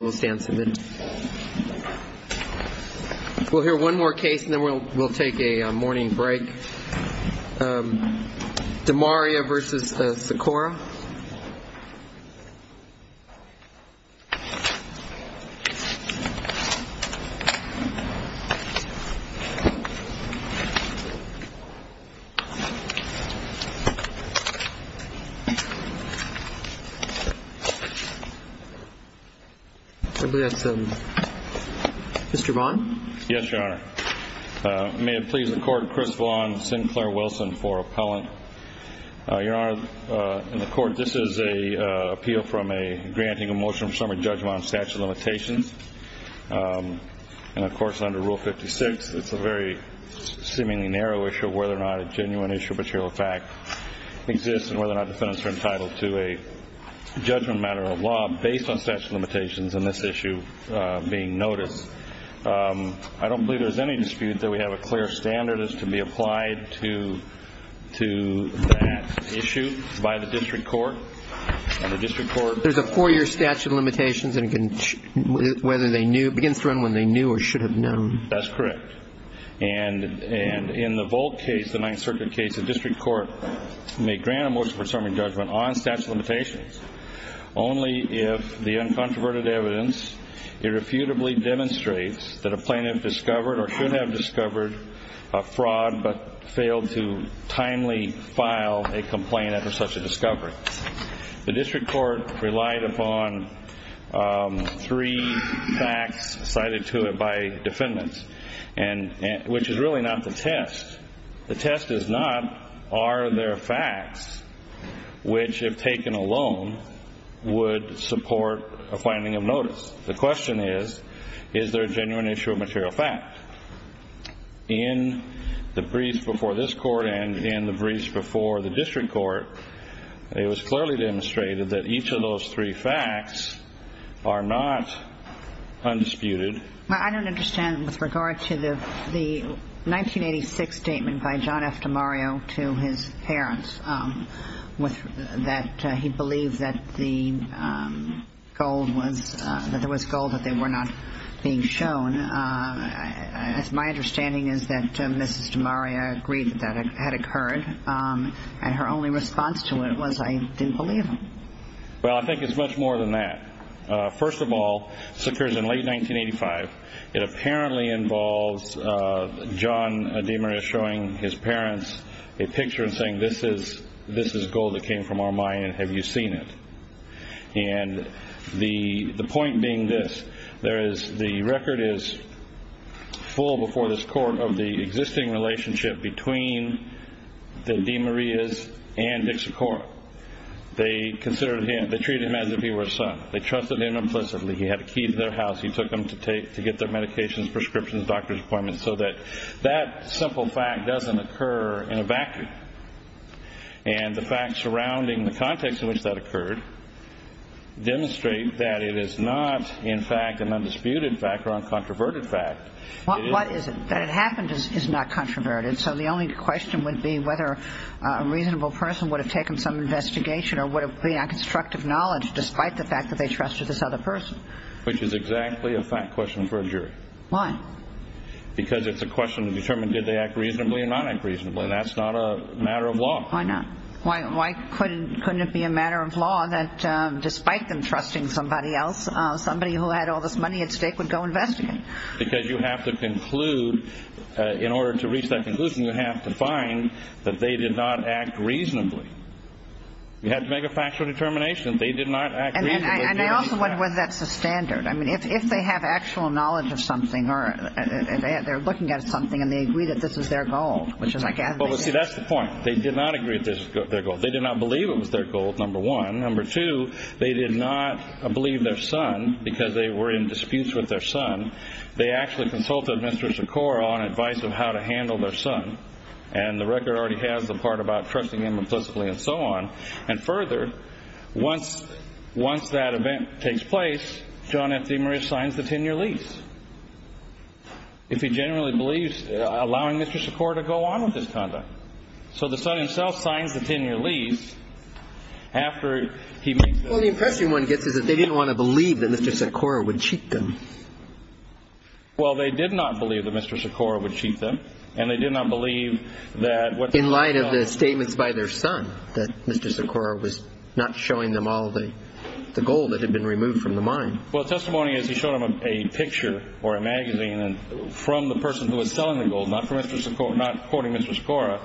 We'll hear one more case and then we'll take a morning break. DeMaria v. Sykora. Mr. Vaughn? Yes, Your Honor. May it please the Court, Chris Vaughn, Sinclair Wilson for appellant. Your Honor, in the Court, this is an appeal from a granting a motion for summary judgment on statute of limitations. And of course, under Rule 56, it's a very seemingly narrow issue whether or not a genuine issue of material fact exists and whether or not defendants are entitled to a judgment matter of law based on statute of limitations in this issue being noticed. I don't believe there's any dispute that we have a clear standard as to be applied to that issue by the district court. And the district court There's a four-year statute of limitations and it begins to run when they knew or should have known. That's correct. And in the Volt case, the Ninth Circuit case, the district court may grant a motion for summary judgment on statute of limitations only if the uncontroverted evidence irrefutably demonstrates that a plaintiff discovered or should have discovered a fraud but failed to timely file a complaint after such a discovery. The district court relied upon three facts cited to it by defendants. And which is really not the test. The test is not are there facts which, if taken alone, would support a finding of notice. The question is, is there a genuine issue of material fact? In the briefs before this Court and in the briefs before the district court, it was clearly demonstrated that each of those three facts are not undisputed. I don't understand with regard to the 1986 statement by John F. DiMario to his parents that he believed that there was gold that they were not being shown. My understanding is that Mrs. DiMario agreed that that had occurred. And her only response to it was, I didn't believe them. Well, I think it's much more than that. First of all, this occurs in late 1985. It apparently involves John DiMario showing his parents a picture and saying, this is gold that came from our mine and have you seen it? And the point being this. The record is full before this Court of the existing relationship between the DiMarios and Dick Sikora. They treated him as if he were a son. They trusted him implicitly. He had a key to their house. He took them to get their medications, prescriptions, doctor's appointments, so that that simple fact doesn't occur in a vacuum. And the facts surrounding the context in which that occurred demonstrate that it is not, in fact, an undisputed fact or a controverted fact. What is it? That it happened is not controverted. So the only question would be whether a reasonable person would have taken some investigation or would have been on constructive knowledge despite the fact that they trusted this other person. Which is exactly a fact question for a jury. Why? Because it's a question to determine did they act reasonably or not act reasonably. That's not a matter of law. Why not? Why couldn't it be a matter of law that despite them trusting somebody else, somebody who had all this money at stake would go investigate? Because you have to conclude, in order to reach that conclusion, you have to find that they did not act reasonably. You have to make a factual determination they did not act reasonably. And I also wonder whether that's the standard. I mean, if they have actual knowledge of something or they're looking at something and they agree that this is their goal, which is I gather they did. Well, see, that's the point. They did not agree that this was their goal. They did not believe it was their goal, number one. Number two, they did not believe their son because they were in disputes with their son. They actually consulted Mr. Sikora on advice of how to handle their son. And the record already has the part about trusting him implicitly and so on. And further, once that event takes place, John F. DeMaria signs the 10-year lease. If he genuinely believes, allowing Mr. Sikora to go on with this conduct. So the son himself signs the 10-year lease after he made the agreement. Well, the impression one gets is that they didn't want to believe that Mr. Sikora would cheat them. Well, they did not believe that Mr. Sikora would cheat them. And they did not believe that. In light of the statements by their son that Mr. Sikora was not showing them all the gold that had been removed from the mine. Well, testimony is he showed him a picture or a magazine from the person who was selling the gold, not quoting Mr. Sikora,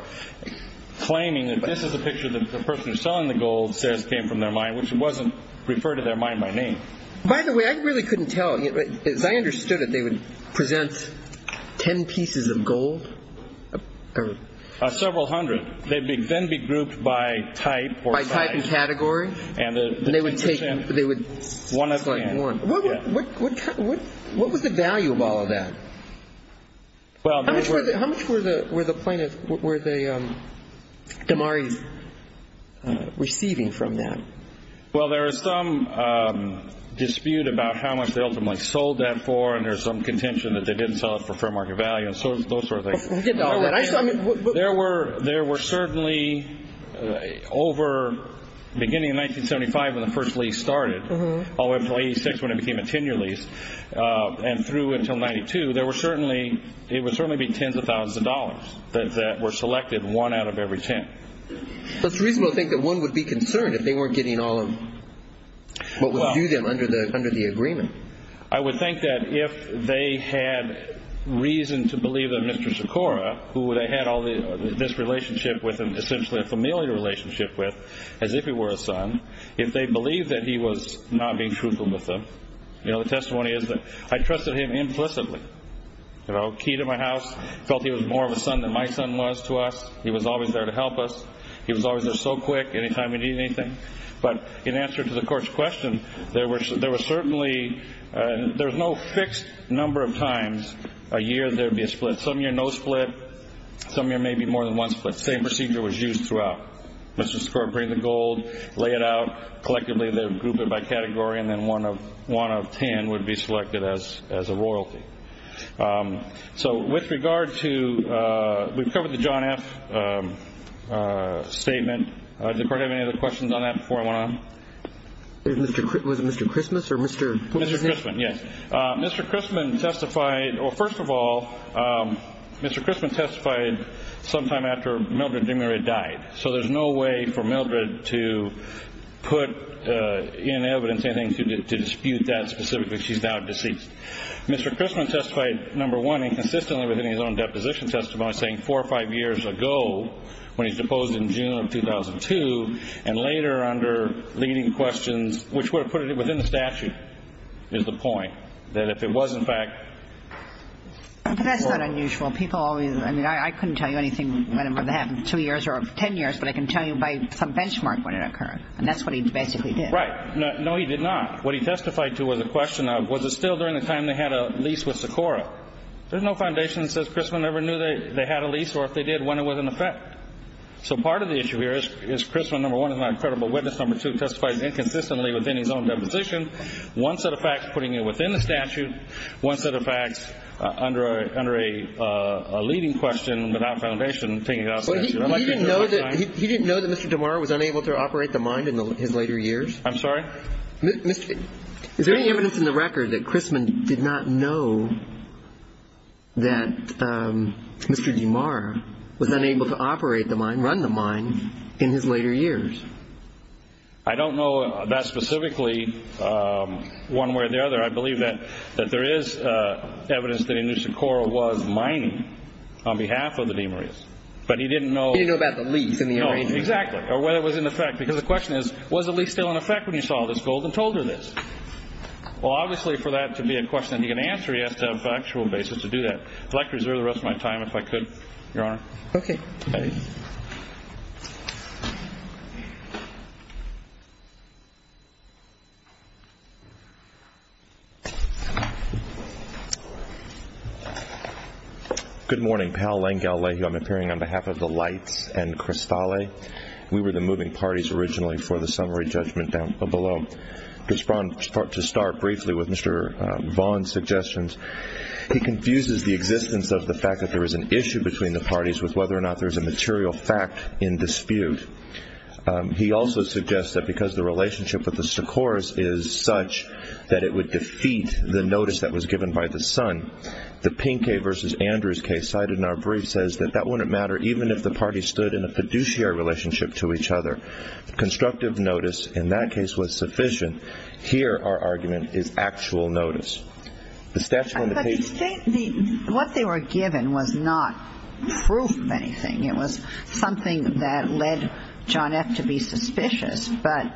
claiming that this is a picture that the person selling the gold says came from their mind, which wasn't referred to their mind by name. By the way, I really couldn't tell. As I understood it, they would present 10 pieces of gold. Several hundred. They'd then be grouped by type or size. By type and category. And they would present one at a time. What was the value of all of that? How much were the plaintiffs, were the DeMaries receiving from that? Well, there is some dispute about how much they ultimately sold that for, and there's some contention that they didn't sell it for fair market value and those sort of things. There were certainly over the beginning of 1975 when the first lease started, all the way up to 1986 when it became a 10-year lease, and through until 1992, there were certainly, it would certainly be tens of thousands of dollars that were selected, one out of every ten. But it's reasonable to think that one would be concerned if they weren't getting all of what was due them under the agreement. I would think that if they had reason to believe that Mr. Sikora, who they had all this relationship with and essentially a familial relationship with, as if he were a son, if they believed that he was not being truthful with them, the testimony is that I trusted him implicitly. You know, key to my house, felt he was more of a son than my son was to us. He was always there to help us. He was always there so quick anytime we needed anything. But in answer to the court's question, there was certainly, there's no fixed number of times a year there would be a split. Some years, no split. Some years, maybe more than one split. The same procedure was used throughout. Mr. Sikora would bring the gold, lay it out, collectively they would group it by category, and then one of ten would be selected as a royalty. So with regard to, we've covered the John F. statement. Did the court have any other questions on that before I went on? Was it Mr. Christmas or Mr. Poop's name? Mr. Christman, yes. Mr. Christman testified, well, first of all, Mr. Christman testified sometime after Mildred DeMaria died. So there's no way for Mildred to put in evidence anything to dispute that specifically. She's now deceased. Mr. Christman testified, number one, inconsistently within his own deposition testimony, saying four or five years ago when he was deposed in June of 2002, and later under leading questions, which would have put it within the statute, is the point, that if it was, in fact, But that's not unusual. I mean, I couldn't tell you anything whenever that happened, two years or ten years, but I can tell you by some benchmark when it occurred. And that's what he basically did. Right. No, he did not. What he testified to was a question of, was it still during the time they had a lease with Socorro? There's no foundation that says Christman ever knew they had a lease, or if they did, when it was in effect. So part of the issue here is Christman, number one, is not a credible witness. Number two, testified inconsistently within his own deposition. One set of facts putting it within the statute. One set of facts under a leading question without foundation taking it out of the statute. He didn't know that Mr. DeMar was unable to operate the mine in his later years? I'm sorry? Is there any evidence in the record that Christman did not know that Mr. DeMar was unable to operate the mine, run the mine, in his later years? I don't know that specifically one way or the other. I believe that there is evidence that he knew Socorro was mining on behalf of the DeMarias. But he didn't know. He didn't know about the lease and the arrangement. No, exactly. Or whether it was in effect. Because the question is, was the lease still in effect when he saw this gold and told her this? Well, obviously for that to be a question that he can answer, he has to have a factual basis to do that. I'd like to reserve the rest of my time if I could, Your Honor. Okay. Thank you. Good morning. Paul Langelehu. I'm appearing on behalf of the Lights and Cristale. We were the moving parties originally for the summary judgment down below. Just to start briefly with Mr. Vaughan's suggestions, he confuses the existence of the fact that there is an issue between the parties with whether or not there is a material fact in dispute. He also suggests that because the relationship with the Socorros is such that it would defeat the notice that was given by the son, the Pinque v. Andrews case cited in our brief says that that wouldn't matter even if the parties stood in a fiduciary relationship to each other. Constructive notice in that case was sufficient. Here our argument is actual notice. What they were given was not proof of anything. It was something that led John F. to be suspicious. But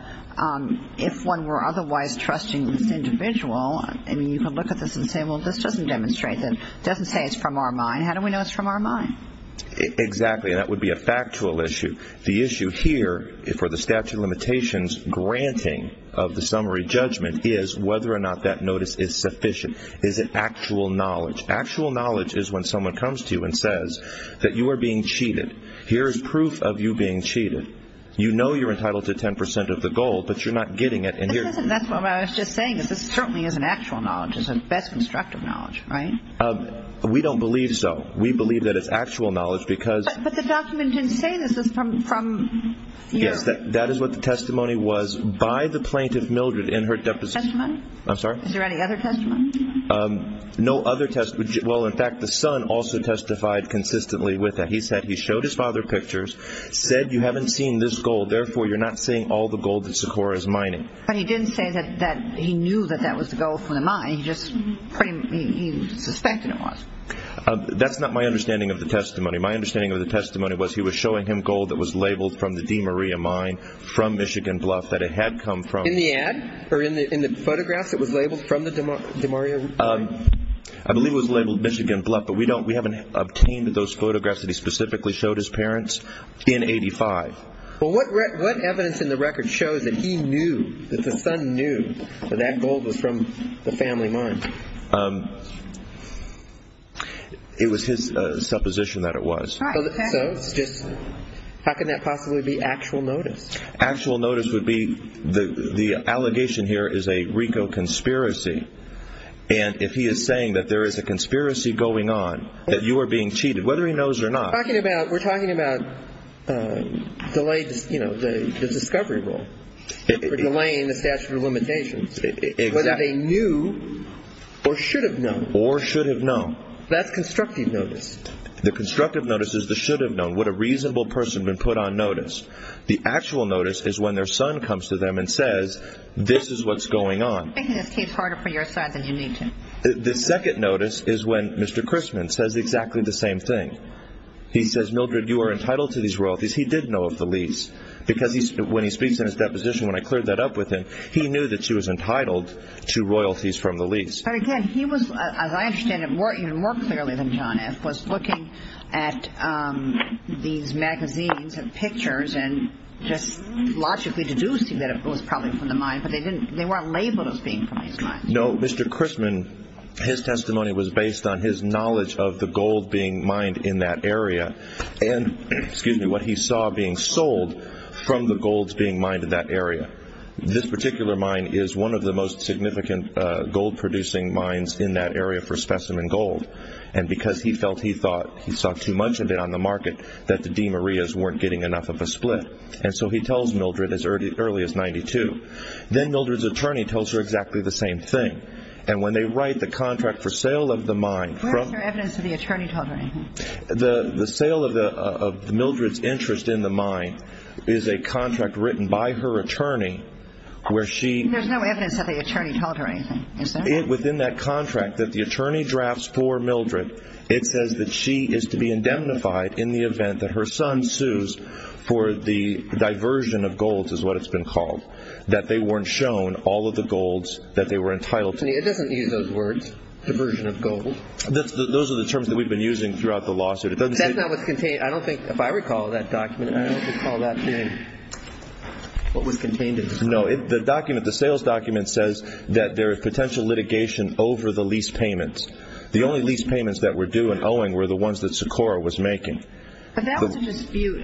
if one were otherwise trusting this individual, I mean, you could look at this and say, well, this doesn't demonstrate that. It doesn't say it's from our mind. How do we know it's from our mind? Exactly. And that would be a factual issue. The issue here for the statute of limitations granting of the summary judgment is whether or not that notice is sufficient. Is it actual knowledge? Actual knowledge is when someone comes to you and says that you are being cheated. Here is proof of you being cheated. You know you're entitled to 10 percent of the gold, but you're not getting it. That's what I was just saying. This certainly isn't actual knowledge. It's a best constructive knowledge, right? We don't believe so. We believe that it's actual knowledge because. But the document didn't say this is from you. Yes, that is what the testimony was by the plaintiff, Mildred, in her deposition. Testimony? I'm sorry? Is there any other testimony? No other testimony. Well, in fact, the son also testified consistently with that. He said he showed his father pictures, said you haven't seen this gold. Therefore, you're not seeing all the gold that Sikora is mining. But he didn't say that he knew that that was the gold from the mine. He just pretty much suspected it was. That's not my understanding of the testimony. My understanding of the testimony was he was showing him gold that was labeled from the DeMaria mine from Michigan Bluff that it had come from. In the ad? Or in the photographs that was labeled from the DeMaria mine? I believe it was labeled Michigan Bluff, but we haven't obtained those photographs that he specifically showed his parents in 85. Well, what evidence in the record shows that he knew, that the son knew that that gold was from the family mine? It was his supposition that it was. So it's just how can that possibly be actual notice? Actual notice would be the allegation here is a RICO conspiracy. And if he is saying that there is a conspiracy going on, that you are being cheated, whether he knows or not. We're talking about the discovery rule for delaying the statute of limitations. Exactly. Whether they knew or should have known. Or should have known. That's constructive notice. The constructive notice is the should have known. Would a reasonable person have been put on notice? The actual notice is when their son comes to them and says, this is what's going on. Making this case harder for your son than you need to. The second notice is when Mr. Christman says exactly the same thing. He says, Mildred, you are entitled to these royalties. He did know of the lease. Because when he speaks in his deposition, when I cleared that up with him, he knew that she was entitled to royalties from the lease. But, again, he was, as I understand it, even more clearly than John F., was looking at these magazines and pictures and just logically deducing that it was probably from the mine. But they weren't labeled as being from his mine. No. Mr. Christman, his testimony was based on his knowledge of the gold being mined in that area. And, excuse me, what he saw being sold from the golds being mined in that area. This particular mine is one of the most significant gold-producing mines in that area for specimen gold. And because he felt he saw too much of it on the market that the DeMarias weren't getting enough of a split. And so he tells Mildred as early as 92. Then Mildred's attorney tells her exactly the same thing. And when they write the contract for sale of the mine. Where is there evidence that the attorney told her anything? The sale of Mildred's interest in the mine is a contract written by her attorney where she... There's no evidence that the attorney told her anything, is there? Within that contract that the attorney drafts for Mildred, it says that she is to be indemnified in the event that her son sues for the diversion of golds is what it's been called. That they weren't shown all of the golds that they were entitled to. It doesn't use those words, diversion of golds. Those are the terms that we've been using throughout the lawsuit. It doesn't say... That's not what's contained... I don't think... If I recall that document... I don't recall that being what was contained in the... No, the document... The sales document says that there is potential litigation over the lease payments. The only lease payments that were due in Owing were the ones that Socorro was making. But that was a dispute.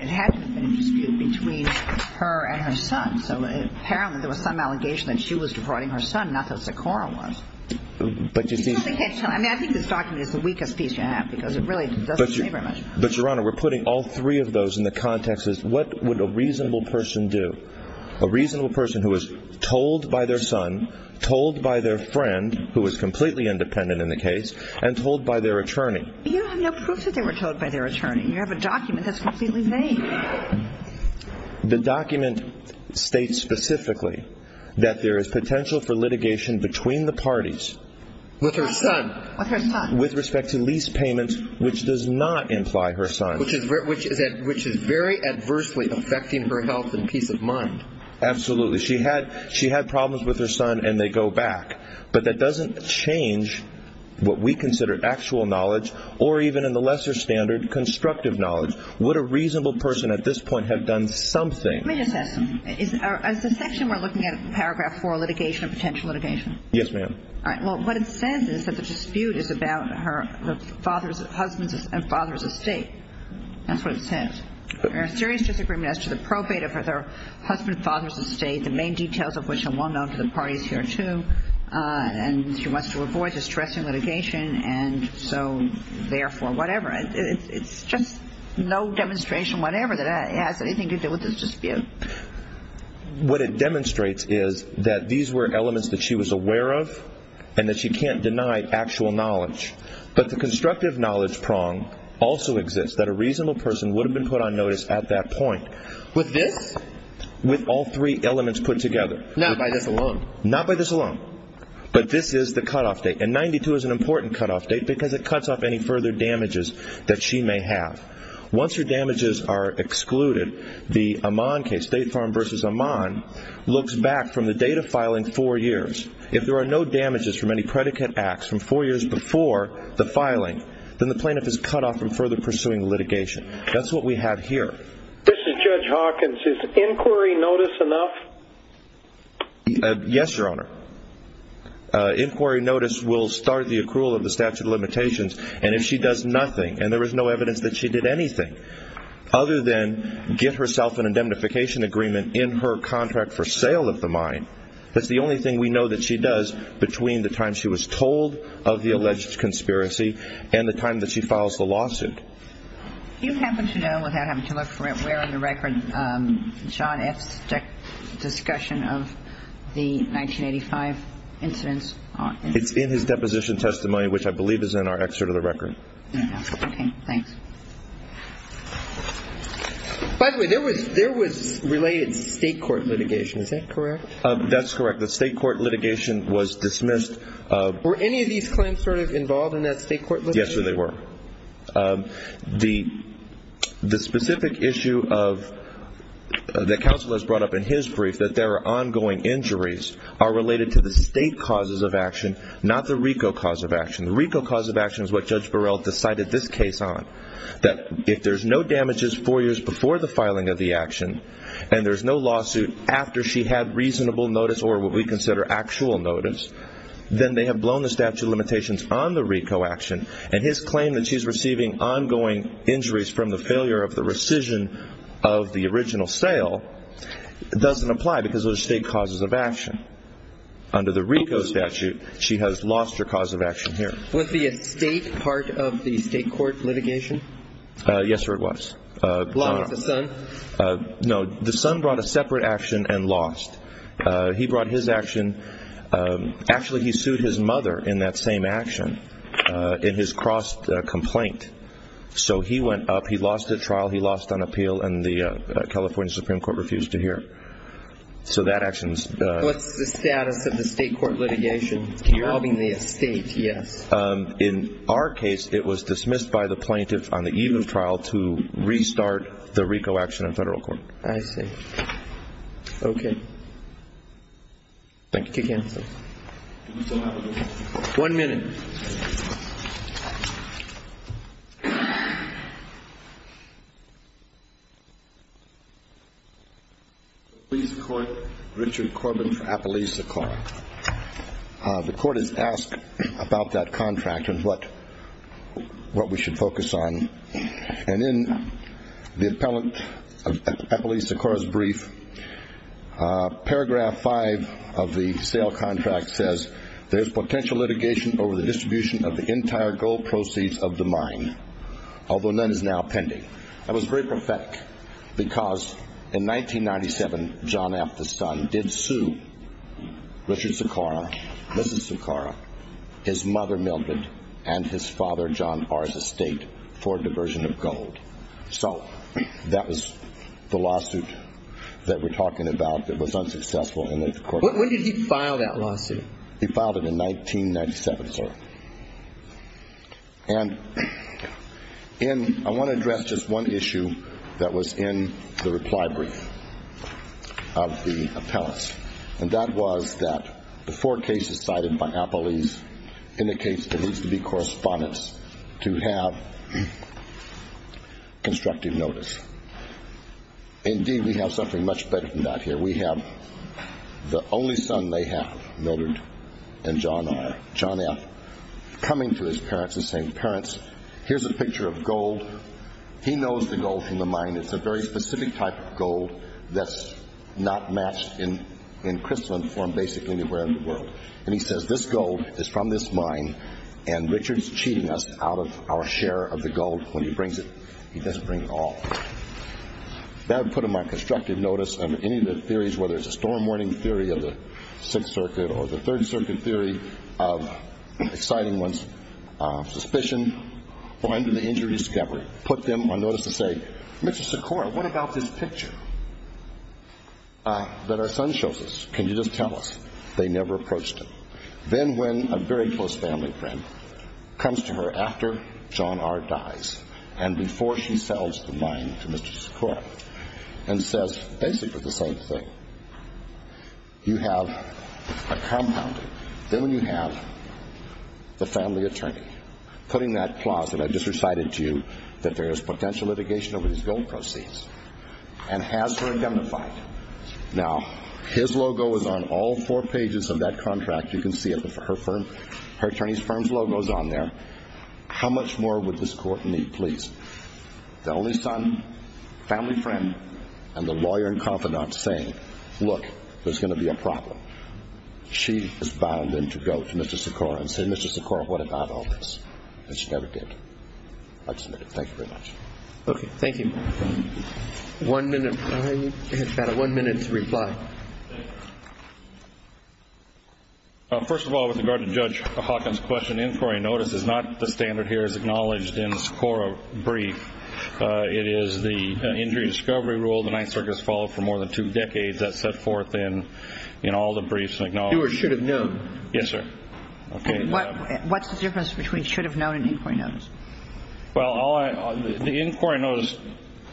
It had to have been a dispute between her and her son. So apparently there was some allegation that she was deporting her son, not that Socorro was. But you see... I don't think it's... I mean, I think this document is the weakest piece you have because it really doesn't say very much. But, Your Honor, we're putting all three of those in the context of what would a reasonable person do? A reasonable person who was told by their son, told by their friend, who was completely independent in the case, and told by their attorney. But you don't have no proof that they were told by their attorney. You have a document that's completely vague. The document states specifically that there is potential for litigation between the parties. With her son. With her son. With respect to lease payments, which does not imply her son. Which is very adversely affecting her health and peace of mind. Absolutely. She had problems with her son, and they go back. But that doesn't change what we consider actual knowledge, or even in the lesser standard, constructive knowledge. Would a reasonable person at this point have done something? Let me just ask you. Is the section we're looking at, paragraph 4, litigation, potential litigation? Yes, ma'am. All right. Well, what it says is that the dispute is about her husband's and father's estate. That's what it says. There are serious disagreements as to the probate of her husband and father's estate, the main details of which are well known to the parties here, too. And she wants to avoid distressing litigation, and so, therefore, whatever. It's just no demonstration, whatever, that it has anything to do with this dispute. What it demonstrates is that these were elements that she was aware of, and that she can't deny actual knowledge. But the constructive knowledge prong also exists, that a reasonable person would have been put on notice at that point. With this? With all three elements put together. Not by this alone? Not by this alone. But this is the cutoff date. And 92 is an important cutoff date because it cuts off any further damages that she may have. Once her damages are excluded, the Amman case, State Farm v. Amman, looks back from the date of filing four years. If there are no damages from any predicate acts from four years before the filing, then the plaintiff is cut off from further pursuing litigation. That's what we have here. This is Judge Hawkins. Is inquiry notice enough? Yes, Your Honor. And if she does nothing, and there is no evidence that she did anything other than get herself an indemnification agreement in her contract for sale of the mine, that's the only thing we know that she does between the time she was told of the alleged conspiracy and the time that she files the lawsuit. Do you happen to know, without having to look for it, where on the record John F.'s discussion of the 1985 incidents are? It's in his deposition testimony, which I believe is in our excerpt of the record. Okay. Thanks. By the way, there was related state court litigation. Is that correct? That's correct. The state court litigation was dismissed. Were any of these claims sort of involved in that state court litigation? Yes, sir, they were. The specific issue that counsel has brought up in his brief, that there are ongoing injuries, are related to the state causes of action, not the RICO cause of action. The RICO cause of action is what Judge Burrell decided this case on, that if there's no damages four years before the filing of the action, and there's no lawsuit after she had reasonable notice or what we consider actual notice, then they have blown the statute of limitations on the RICO action, and his claim that she's receiving ongoing injuries from the failure of the rescission of the original sale doesn't apply, because those are state causes of action. Under the RICO statute, she has lost her cause of action here. Was the estate part of the state court litigation? Yes, sir, it was. As long as the son? No, the son brought a separate action and lost. He brought his action. Actually, he sued his mother in that same action, in his cross-complaint. So he went up, he lost at trial, he lost on appeal, and the California Supreme Court refused to hear. So that action's... What's the status of the state court litigation involving the estate? Yes. In our case, it was dismissed by the plaintiff on the eve of trial to restart the RICO action in federal court. I see. Okay. Thank you. Kick-in, please. One minute. Appellee's court, Richard Corbin for Appellee's Sikora. The court has asked about that contract and what we should focus on. And in the Appellee's Sikora's brief, paragraph five of the sale contract says, there's potential litigation over the distribution of the entire gold proceeds of the mine, although none is now pending. That was very prophetic, because in 1997, John F., the son, did sue Richard Sikora, Mrs. Sikora, his mother Mildred, and his father John R.'s estate for diversion of gold. So that was the lawsuit that we're talking about that was unsuccessful in the court. When did he file that lawsuit? He filed it in 1997, sir. And I want to address just one issue that was in the reply brief of the appellants. And that was that the four cases cited by Appellee's indicates there needs to be correspondence to have constructive notice. Indeed, we have something much better than that here. We have the only son they have, Mildred and John R., John F., coming to his parents and saying, Parents, here's a picture of gold. He knows the gold from the mine. It's a very specific type of gold that's not matched in crystalline form basically anywhere in the world. And he says, This gold is from this mine, and Richard's cheating us out of our share of the gold when he brings it. He doesn't bring it all. That would put him on constructive notice of any of the theories, whether it's a storm warning theory of the Sixth Circuit or the Third Circuit theory of exciting ones, suspicion, or under the injury discovery. It would put them on notice to say, Mr. Sikora, what about this picture that our son shows us? Can you just tell us? They never approached him. Then when a very close family friend comes to her after John R. dies and before she sells the mine to Mr. Sikora and says basically the same thing, you have a compounding. Then when you have the family attorney putting that clause that I just recited to you, that there is potential litigation over these gold proceeds, and has her identified. Now, his logo is on all four pages of that contract. You can see her attorney's firm's logo is on there. How much more would this court need, please? The only son, family friend, and the lawyer and confidant saying, Look, there's going to be a problem. She is bound then to go to Mr. Sikora and say, Mr. Sikora, what about all this? And she never did. I'd submit it. Thank you very much. Okay. Thank you. One minute. We have about one minute to reply. First of all, with regard to Judge Hawkins' question, inquiry notice is not the standard here as acknowledged in Sikora brief. It is the injury discovery rule the Ninth Circuit has followed for more than two decades that set forth in all the briefs acknowledged. Do or should have known. Yes, sir. Okay. What's the difference between should have known and inquiry notice? Well, the inquiry notice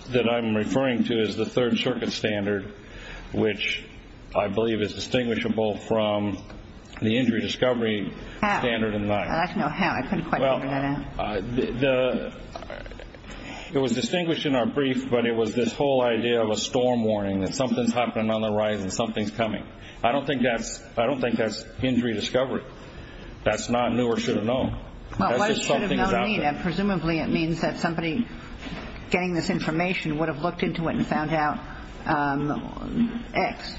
that I'm referring to is the Third Circuit standard, which I believe is distinguishable from the injury discovery standard in the Ninth. I'd like to know how. I couldn't quite figure that out. Well, it was distinguished in our brief, but it was this whole idea of a storm warning that something's happening on the rise and something's coming. I don't think that's injury discovery. That's not knew or should have known. That's just something about it. Presumably it means that somebody getting this information would have looked into it and found out X.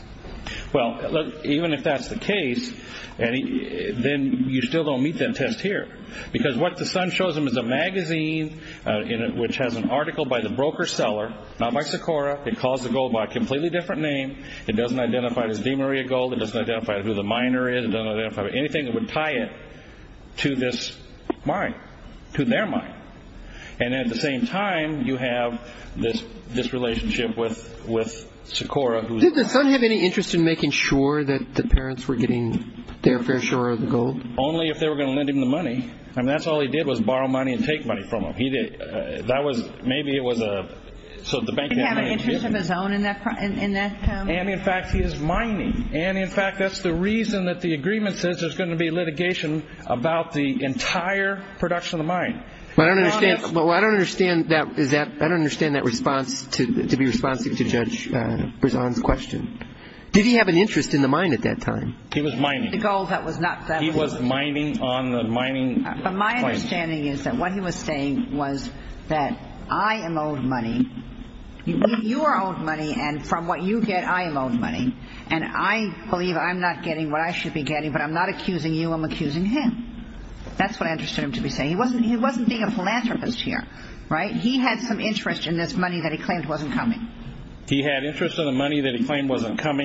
Well, even if that's the case, then you still don't meet that test here because what the son shows him is a magazine which has an article by the broker seller, not by Socorro. It calls the gold by a completely different name. It doesn't identify it as DeMaria gold. It doesn't identify who the miner is. It doesn't identify anything that would tie it to this mine, to their mine. And at the same time, you have this relationship with Socorro. Did the son have any interest in making sure that the parents were getting their fair share of the gold? Only if they were going to lend him the money. I mean, that's all he did was borrow money and take money from them. Maybe it was so the bank had money to give him. Did he have any interest of his own in that time? And, in fact, he is mining. And, in fact, that's the reason that the agreement says there's going to be litigation about the entire production of the mine. Well, I don't understand that response to be responsive to Judge Brisson's question. Did he have an interest in the mine at that time? He was mining. He was mining on the mining claims. But my understanding is that what he was saying was that I am owed money. You are owed money. And from what you get, I am owed money. And I believe I'm not getting what I should be getting. But I'm not accusing you. I'm accusing him. That's what I understood him to be saying. He wasn't being a philanthropist here, right? He had some interest in this money that he claimed wasn't coming. He had interest in the money that he claimed wasn't coming.